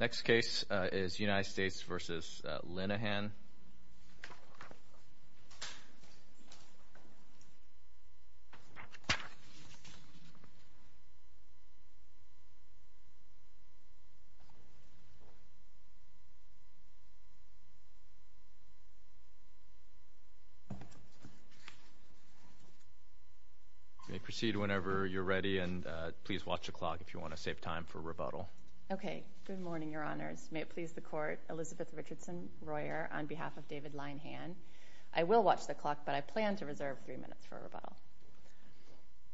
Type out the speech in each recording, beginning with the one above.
Next case is United States v. Linehan. You may proceed whenever you're ready, and please watch the clock if you want to save time for rebuttal. Good morning, Your Honors. I'm here on behalf of David Linehan. I will watch the clock, but I plan to reserve three minutes for rebuttal.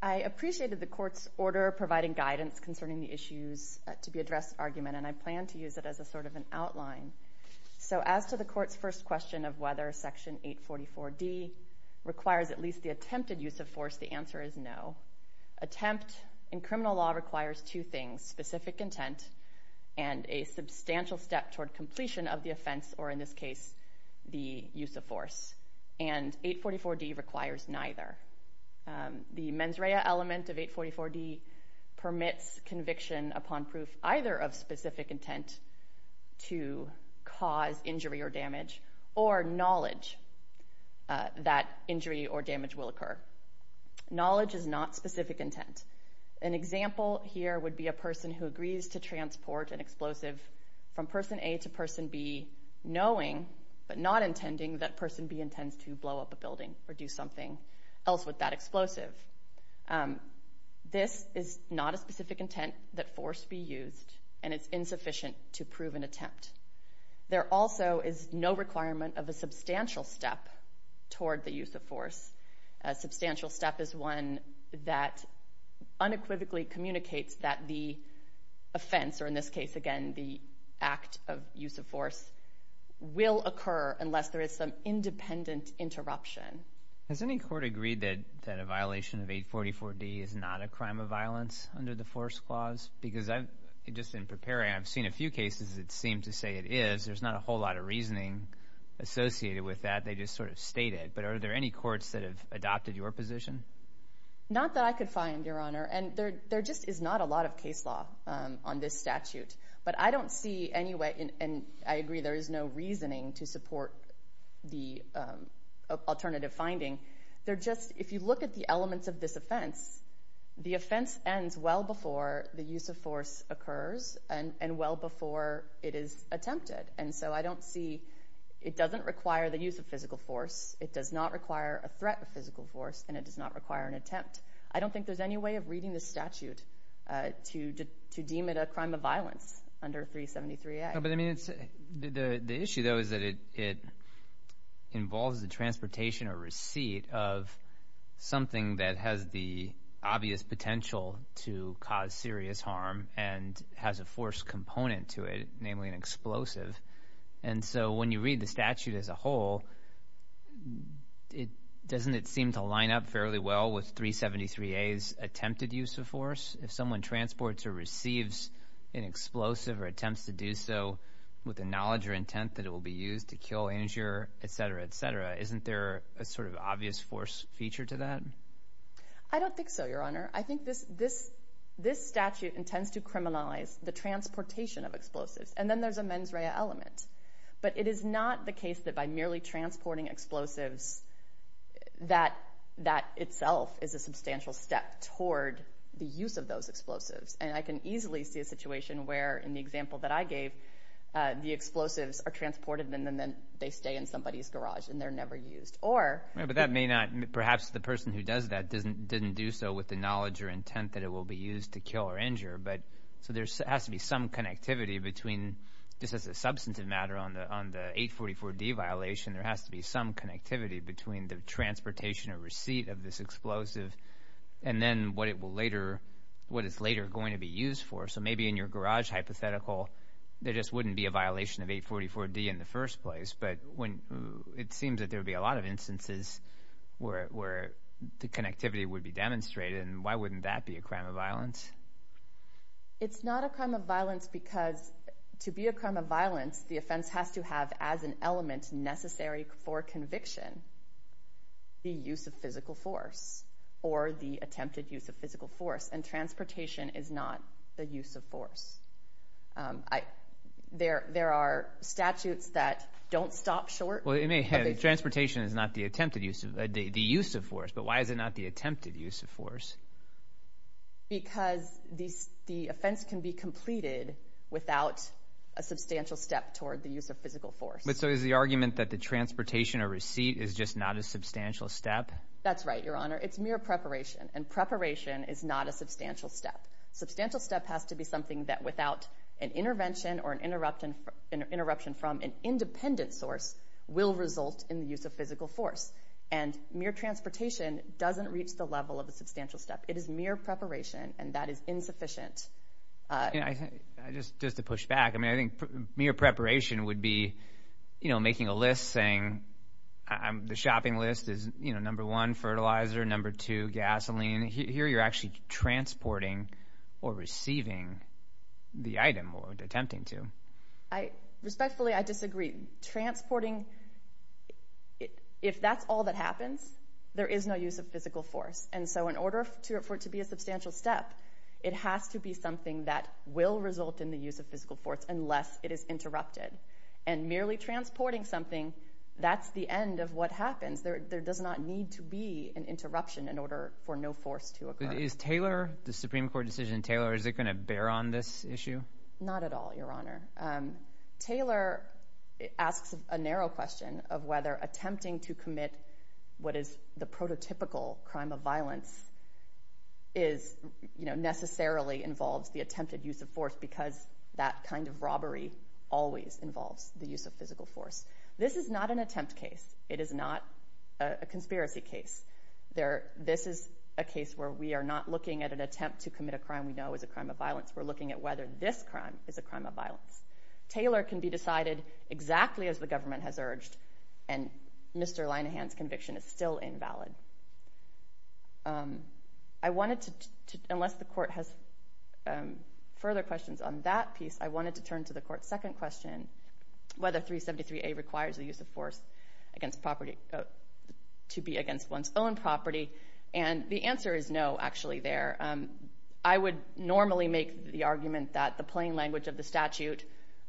I appreciated the Court's order providing guidance concerning the issues to be addressed argument, and I plan to use it as a sort of an outline. So as to the Court's first question of whether Section 844D requires at least the attempted use of force, the answer is no. Attempt in criminal law requires two things, specific intent and a substantial step toward completion of the offense, or in this case, the use of force, and 844D requires neither. The mens rea element of 844D permits conviction upon proof either of specific intent to cause injury or damage or knowledge that injury or damage will occur. Knowledge is not specific intent. An example here would be a person who agrees to transport an explosive from Person A to Person B knowing, but not intending, that Person B intends to blow up a building or do something else with that explosive. This is not a specific intent that force be used, and it's insufficient to prove an attempt. There also is no requirement of a substantial step toward the use of force. A substantial step is one that unequivocally communicates that the offense, or in this case, again, the act of use of force, will occur unless there is some independent interruption. Has any court agreed that a violation of 844D is not a crime of violence under the Force Clause? Because just in preparing, I've seen a few cases that seem to say it is. There's not a whole lot of reasoning associated with that. They just sort of state it. But are there any courts that have adopted your position? Not that I could find, Your Honor. There just is not a lot of case law on this statute. But I don't see any way, and I agree there is no reasoning to support the alternative finding. If you look at the elements of this offense, the offense ends well before the use of force occurs and well before it is attempted. So I don't see, it doesn't require the use of physical force. It does not require a threat of physical force, and it does not require an attempt. I don't think there is any way of reading this statute to deem it a crime of violence under 373A. But I mean, the issue, though, is that it involves the transportation or receipt of something that has the obvious potential to cause serious harm and has a force component to it, namely an explosive. And so when you read the statute as a whole, doesn't it seem to line up fairly well with 373A's attempted use of force? If someone transports or receives an explosive or attempts to do so with the knowledge or intent that it will be used to kill, injure, etc., etc., isn't there a sort of obvious force feature to that? I don't think so, Your Honor. I think this statute intends to criminalize the transportation of explosives. And then there's a mens rea element. But it is not the case that by merely transporting explosives that that itself is a substantial step toward the use of those explosives. And I can easily see a situation where, in the example that I gave, the explosives are transported and then they stay in somebody's garage and they're never used. Or... But that may not... Perhaps the person who does that didn't do so with the knowledge or intent that it will be used to kill or injure. But... So there has to be some connectivity between, just as a substantive matter on the 844D violation, there has to be some connectivity between the transportation or receipt of this explosive and then what it will later... What it's later going to be used for. So maybe in your garage hypothetical, there just wouldn't be a violation of 844D in the first place. But when... It seems that there would be a lot of instances where the connectivity would be demonstrated. And why wouldn't that be a crime of violence? It's not a crime of violence because to be a crime of violence, the offense has to have as an element necessary for conviction, the use of physical force or the attempted use of physical force. And transportation is not the use of force. There are statutes that don't stop short... Well, it may have... Transportation is not the attempted use of... The use of force. But why is it not the attempted use of force? Because the offense can be completed without a substantial step toward the use of physical force. But so is the argument that the transportation or receipt is just not a substantial step? That's right, Your Honor. It's mere preparation. And preparation is not a substantial step. Substantial step has to be something that without an intervention or an interruption from an independent source will result in the use of physical force. And mere transportation doesn't reach the level of a substantial step. It is mere preparation, and that is insufficient. Just to push back, I mean, I think mere preparation would be, you know, making a list saying the shopping list is, you know, number one, fertilizer, number two, gasoline. Here you're actually transporting or receiving the item or attempting to. Respectfully, I disagree. Transporting, if that's all that happens, there is no use of physical force. And so in order for it to be a substantial step, it has to be something that will result in the use of physical force unless it is interrupted. And merely transporting something, that's the end of what happens. There does not need to be an interruption in order for no force to occur. Is Taylor, the Supreme Court decision in Taylor, is it going to bear on this issue? Not at all, Your Honor. Taylor asks a narrow question of whether attempting to commit what is the prototypical crime of violence is, you know, necessarily involves the attempted use of force because that kind of robbery always involves the use of physical force. This is not an attempt case. It is not a conspiracy case. This is a case where we are not looking at an attempt to commit a crime we know is a crime of violence. We're looking at whether this crime is a crime of violence. Taylor can be decided exactly as the government has urged, and Mr. Linehan's conviction is still invalid. I wanted to, unless the Court has further questions on that piece, I wanted to turn to the Court's second question, whether 373A requires the use of force against property, to be against one's own property. And the answer is no, actually, there. I would normally make the argument that the plain language of the statute,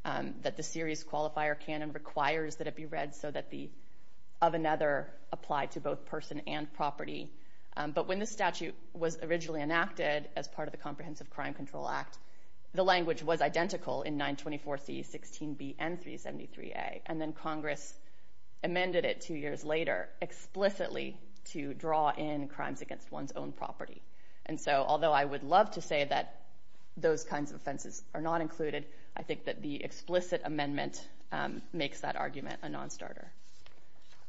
that the series qualifier canon requires that it be read so that the of another apply to both person and property, but when the statute was originally enacted as part of the Comprehensive Crime Control Act, the language was identical in 924C, 16B, and 373A, and then Congress amended it two years later explicitly to draw in crimes against one's own property. And so, although I would love to say that those kinds of offenses are not included, I think that the explicit amendment makes that argument a non-starter.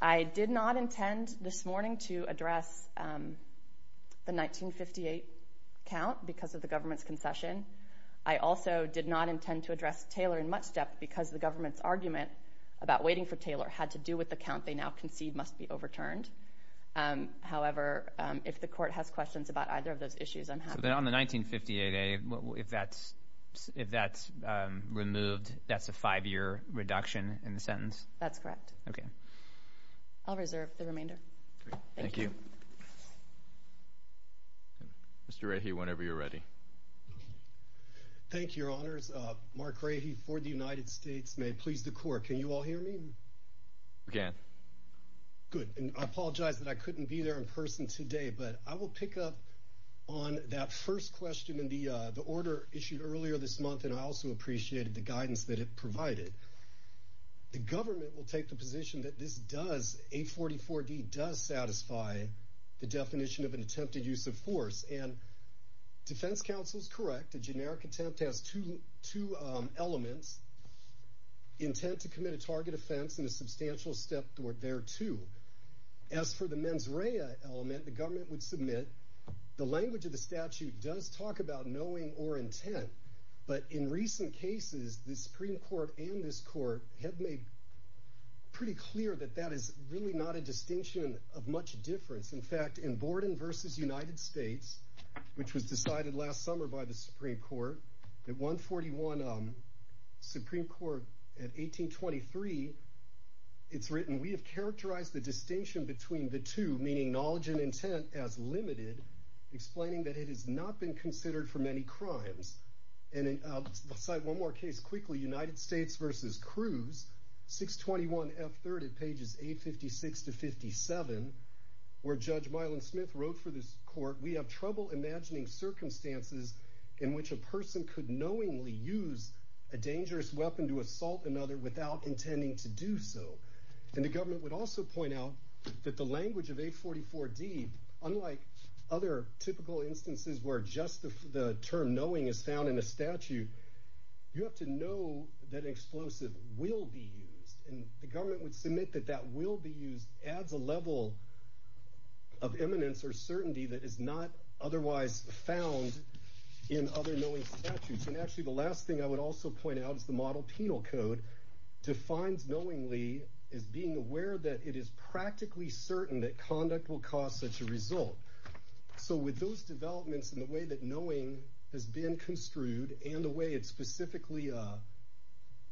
I did not intend this morning to address the 1958 count because of the government's concession. I also did not intend to address Taylor in much depth because the government's argument about waiting for Taylor had to do with the count they now concede must be overturned. However, if the court has questions about either of those issues, I'm happy to. So then on the 1958A, if that's removed, that's a five-year reduction in the sentence? That's correct. Okay. I'll reserve the remainder. Great. Thank you. Mr. Rahe, whenever you're ready. Thank you, Your Honors. Mark Rahe for the United States. May it please the Court. Can you all hear me? We can. Good. I apologize that I couldn't be there in person today, but I will pick up on that first question in the order issued earlier this month, and I also appreciated the guidance that it provided. The government will take the position that this does, 844D, does satisfy the definition of an attempted use of force, and defense counsel's correct. A generic attempt has two elements, intent to commit a target offense and a substantial step there, too. As for the mens rea element, the government would submit, the language of the statute does talk about knowing or intent, but in recent cases, the Supreme Court and this Court have made pretty clear that that is really not a distinction of much difference. In fact, in Borden v. United States, which was decided last summer by the Supreme Court, at 141 Supreme Court, at 1823, it's written, we have characterized the distinction between the two, meaning knowledge and intent, as limited, explaining that it has not been considered for many crimes. And I'll cite one more case quickly, United States v. Cruz, 621F3rd at pages 856 to 57, where Judge Mylon Smith wrote for this Court, we have trouble imagining circumstances in which a person could knowingly use a dangerous weapon to assault another without intending to do so. And the government would also point out that the language of 844D, unlike other typical instances where just the term knowing is found in a statute, you have to know that an explosive will be used. And the government would submit that that will be used adds a level of eminence or not otherwise found in other knowing statutes. And actually the last thing I would also point out is the model penal code defines knowingly as being aware that it is practically certain that conduct will cause such a result. So with those developments and the way that knowing has been construed, and the way it specifically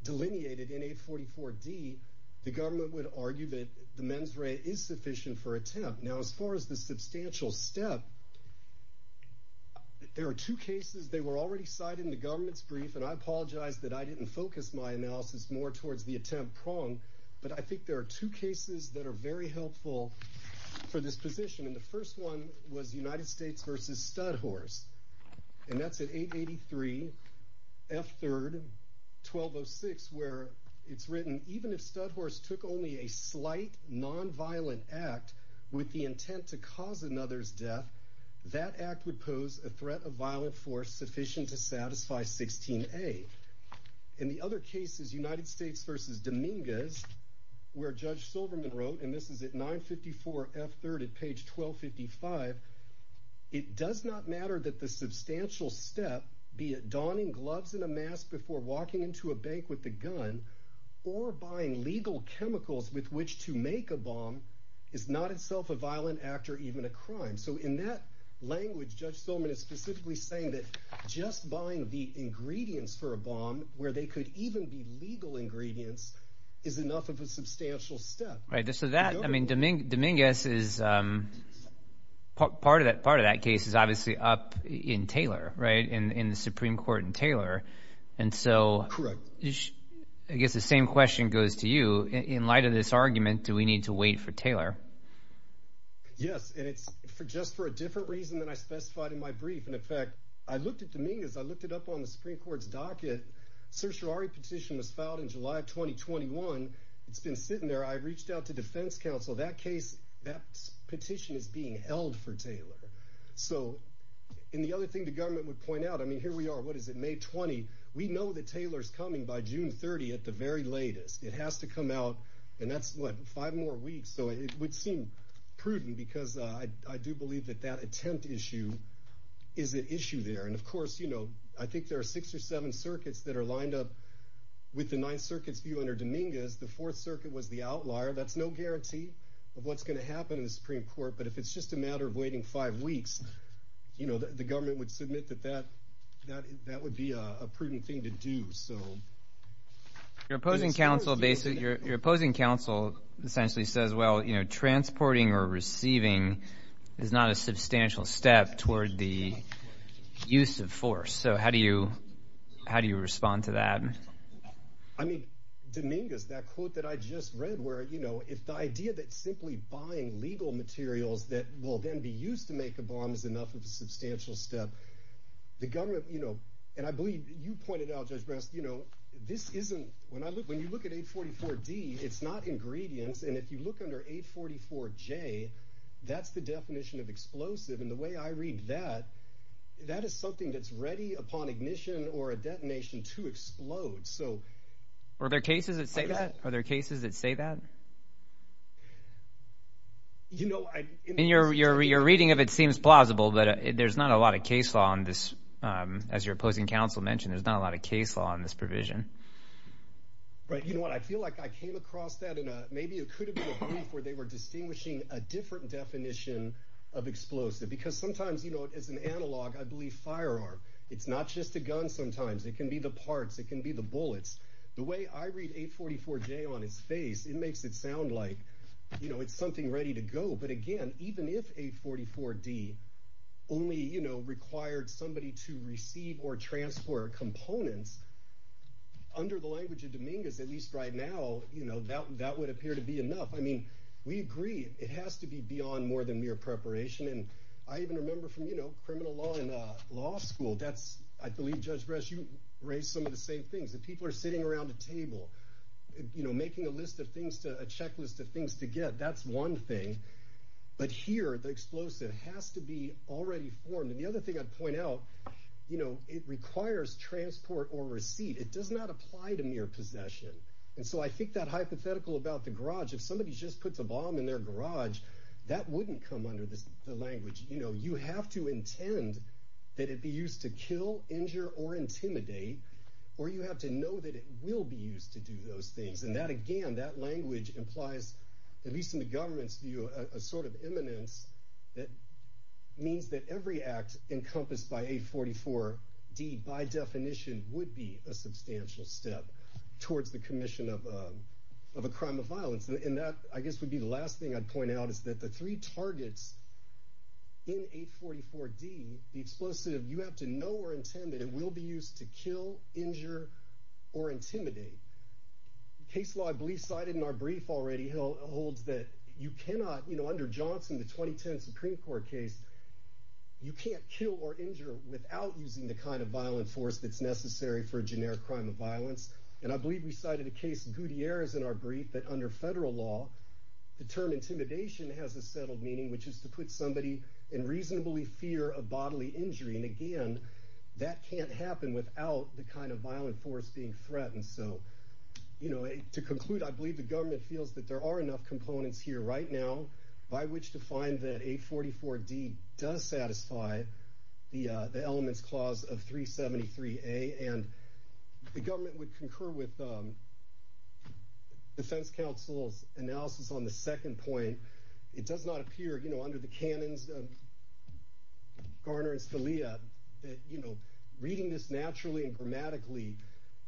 delineated in 844D, the government would argue that the mens rea is sufficient for attempt. Now as far as the substantial step, there are two cases. They were already cited in the government's brief, and I apologize that I didn't focus my analysis more towards the attempt prong, but I think there are two cases that are very helpful for this position. And the first one was United States v. Studhorse. And that's at 883F3rd, 1206, where it's written, even if Studhorse took only a slight nonviolent act with the intent to cause another's death, that act would pose a threat of violent force sufficient to satisfy 16A. In the other cases, United States v. Dominguez, where Judge Silverman wrote, and this is at 954F3rd at page 1255, it does not matter that the substantial step, be it donning gloves and a mask before walking into a bank with a gun, or buying legal chemicals with which to make a bomb, is not itself a violent act or even a crime. So in that language, Judge Silverman is specifically saying that just buying the ingredients for a bomb, where they could even be legal ingredients, is enough of a substantial step. Right, so that, I mean, Dominguez is, part of that case is obviously up in Taylor, right, in the Supreme Court in Taylor. And so I guess the same question goes to you. In light of this argument, do we need to wait for Taylor? Yes, and it's just for a different reason than I specified in my brief. And in fact, I looked at Dominguez, I looked it up on the Supreme Court's docket, certiorari petition was filed in July of 2021. It's been sitting there. I reached out to defense counsel. That case, that petition is being held for Taylor. So and the other thing the government would point out, I mean, here we are, what is it, May 20. We know that Taylor's coming by June 30 at the very latest. It has to come out and that's what, five more weeks. So it would seem prudent because I do believe that that attempt issue is an issue there. And of course, you know, I think there are six or seven circuits that are lined up with the Ninth Circuit's view under Dominguez. The Fourth Circuit was the outlier. That's no guarantee of what's going to happen in the Supreme Court. But if it's just a matter of waiting five weeks, you know, the government would submit that that that that would be a prudent thing to do. So your opposing counsel basically your opposing counsel essentially says, well, you know, transporting or receiving is not a substantial step toward the use of force. So how do you how do you respond to that? I mean, Dominguez, that quote that I just read where, you know, if the idea that simply buying legal materials that will then be used to make a bomb is enough of a substantial step, the government, you know, and I believe you pointed out, Judge Brest, you know, this isn't when I look when you look at 844-D, it's not ingredients. And if you look under 844-J, that's the definition of explosive. And the way I read that, that is something that's ready upon ignition or a detonation to explode. So are there cases that say that are there cases that say that? You know, I mean, you're you're you're reading of it seems plausible, but there's not a lot of case law on this, as your opposing counsel mentioned, there's not a lot of case law on this provision. Right. You know what? I feel like I came across that in a maybe it could have been where they were distinguishing a different definition of explosive, because sometimes, you know, as an analog, I believe firearm, it's not just a gun. Sometimes it can be the parts. It can be the bullets. The way I read 844-J on its face, it makes it sound like, you know, it's something ready to go. But again, even if 844-D only, you know, required somebody to receive or transport components under the language of Dominguez, at least right now, you know, that that would appear to be enough. I mean, we agree it has to be beyond more than mere preparation. And I even remember from, you know, criminal law in law school. That's I believe, Judge Brest, you raised some of the same things. That people are sitting around a table, you know, making a list of things, a checklist of things to get. That's one thing. But here, the explosive has to be already formed. And the other thing I'd point out, you know, it requires transport or receipt. It does not apply to mere possession. And so I think that hypothetical about the garage. If somebody just puts a bomb in their garage, that wouldn't come under the language. You know, you have to intend that it be used to kill, injure, or intimidate. Or you have to know that it will be used to do those things. And that, again, that language implies, at least in the government's view, a sort of eminence that means that every act encompassed by 844-D, by definition, would be a substantial step towards the commission of a crime of violence. And that, I guess, would be the last thing I'd point out. Is that the three targets in 844-D, the explosive, you have to know or intend that it will be used to kill, injure, or intimidate. Case law, I believe, cited in our brief already holds that you cannot, you know, under Johnson, the 2010 Supreme Court case, you can't kill or injure without using the kind of violent force that's necessary for a generic crime of violence. And I believe we cited a case, Gutierrez in our brief, that under federal law, the term intimidation has a settled meaning, which is to put somebody in reasonably fear of bodily injury. And again, that can't happen without the kind of violent force being threatened. So, you know, to conclude, I believe the government feels that there are enough components here right now by which to find that 844-D does satisfy the elements clause of 373-A. And the government would concur with the defense counsel's analysis on the second point. It does not appear, you know, under the canons of Garner and Scalia that, you know, reading this naturally and grammatically,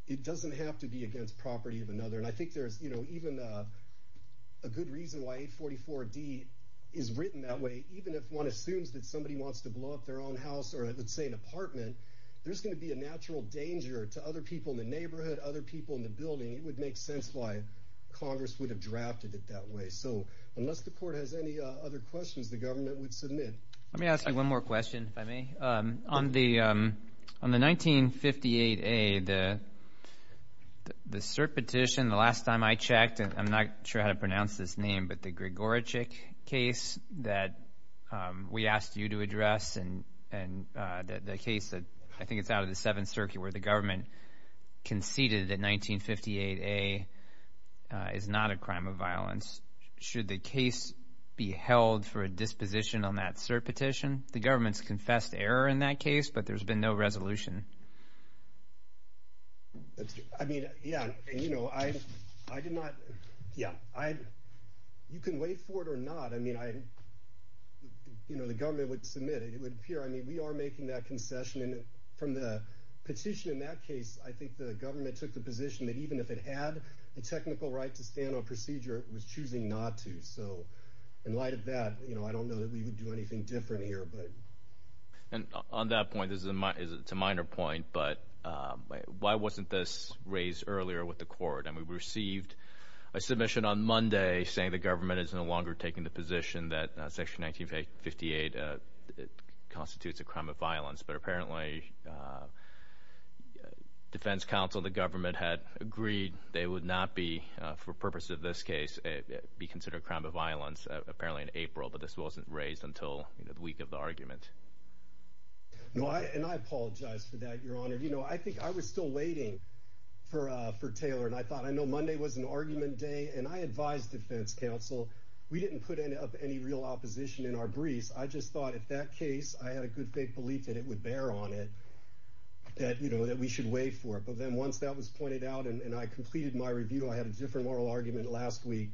it doesn't have to be against property of another. And I think there's, you know, even a good reason why 844-D is written that way, even if one assumes that somebody wants to blow up their own house or, let's say, an apartment, there's going to be a natural danger to other people in the neighborhood, other people in the building. It would make sense why Congress would have drafted it that way. So unless the court has any other questions, the government would submit. Let me ask you one more question, if I may. On the 1958-A, the cert petition, the last time I checked, and I'm not sure how to pronounce this name, but the Grigorichik case that we asked you to address and the case that, I think it's out of the Seventh Circuit, where the government conceded that 1958-A is not a crime of violence. Should the case be held for a disposition on that cert petition? The government's confessed error in that case, but there's been no resolution. I mean, yeah, you know, I did not, yeah, you can wait for it or not. I mean, I, you know, the government would submit it. It would appear, I mean, we are making that concession, and from the petition in that case, I think the government took the position that even if it had the technical right to stand on procedure, it was choosing not to. So in light of that, you know, I don't know that we would do anything different here, but. And on that point, this is a minor point, but why wasn't this raised earlier with the court? I mean, we received a submission on Monday saying the government is no longer taking the position that Section 1958 constitutes a crime of violence, but apparently Defense Council, the government, had agreed they would not be, for purposes of this case, be considered a crime of violence, apparently in April, but this wasn't raised until the week of the argument. No, and I apologize for that, Your Honor. You know, I think I was still waiting for Taylor, and I thought, I know Monday was an argument day, and I advised Defense Council. We didn't put up any real opposition in our briefs. I just thought if that case, I had a good faith belief that it would bear on it, that, you know, that we should wait for it. But then once that was pointed out and I completed my review, I had a different moral argument last week.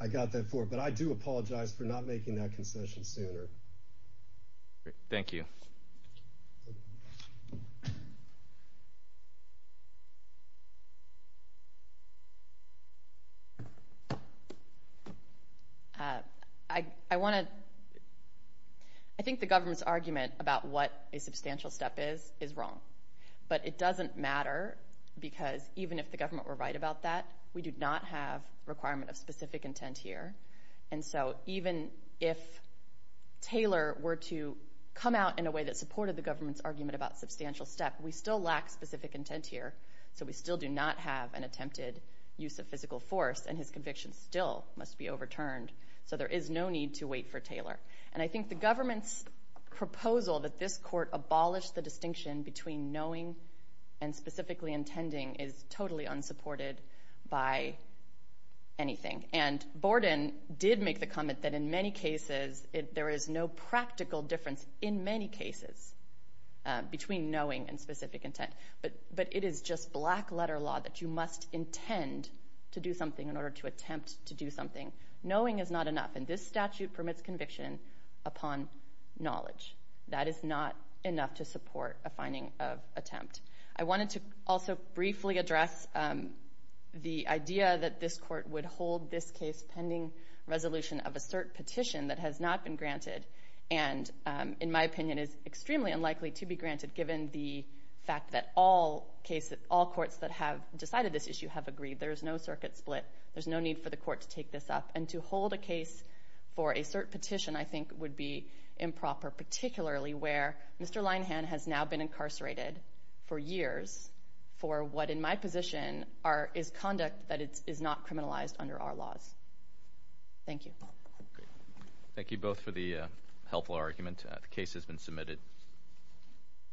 I got that far, but I do apologize for not making that concession sooner. Thank you. I want to, I think the government's argument about what a substantial step is, is wrong. But it doesn't matter, because even if the government were right about that, we do not have a requirement of specific intent here. And so even if Taylor were to come out in a way that supported the government's argument about substantial step, we still lack specific intent here. So we still do not have an attempted use of physical force, and his conviction still must be overturned. So there is no need to wait for Taylor. And I think the government's proposal that this court abolish the distinction between knowing and specifically intending is totally unsupported by anything. And Borden did make the comment that in many cases, there is no practical difference in many cases between knowing and specific intent. But it is just black letter law that you must intend to do something in order to attempt to do something. Knowing is not enough. And this statute permits conviction upon knowledge. That is not enough to support a finding of attempt. I wanted to also briefly address the idea that this court would hold this case pending resolution of a cert petition that has not been granted, and in my opinion, is extremely unlikely to be granted, given the fact that all courts that have decided this issue have agreed. There is no circuit split. There's no need for the court to take this up. And to hold a case for a cert petition, I think, would be improper, particularly where Mr. Linehan has now been incarcerated for years for what, in my position, is conduct that is not criminalized under our laws. Thank you. Thank you both for the helpful argument. The case has been submitted.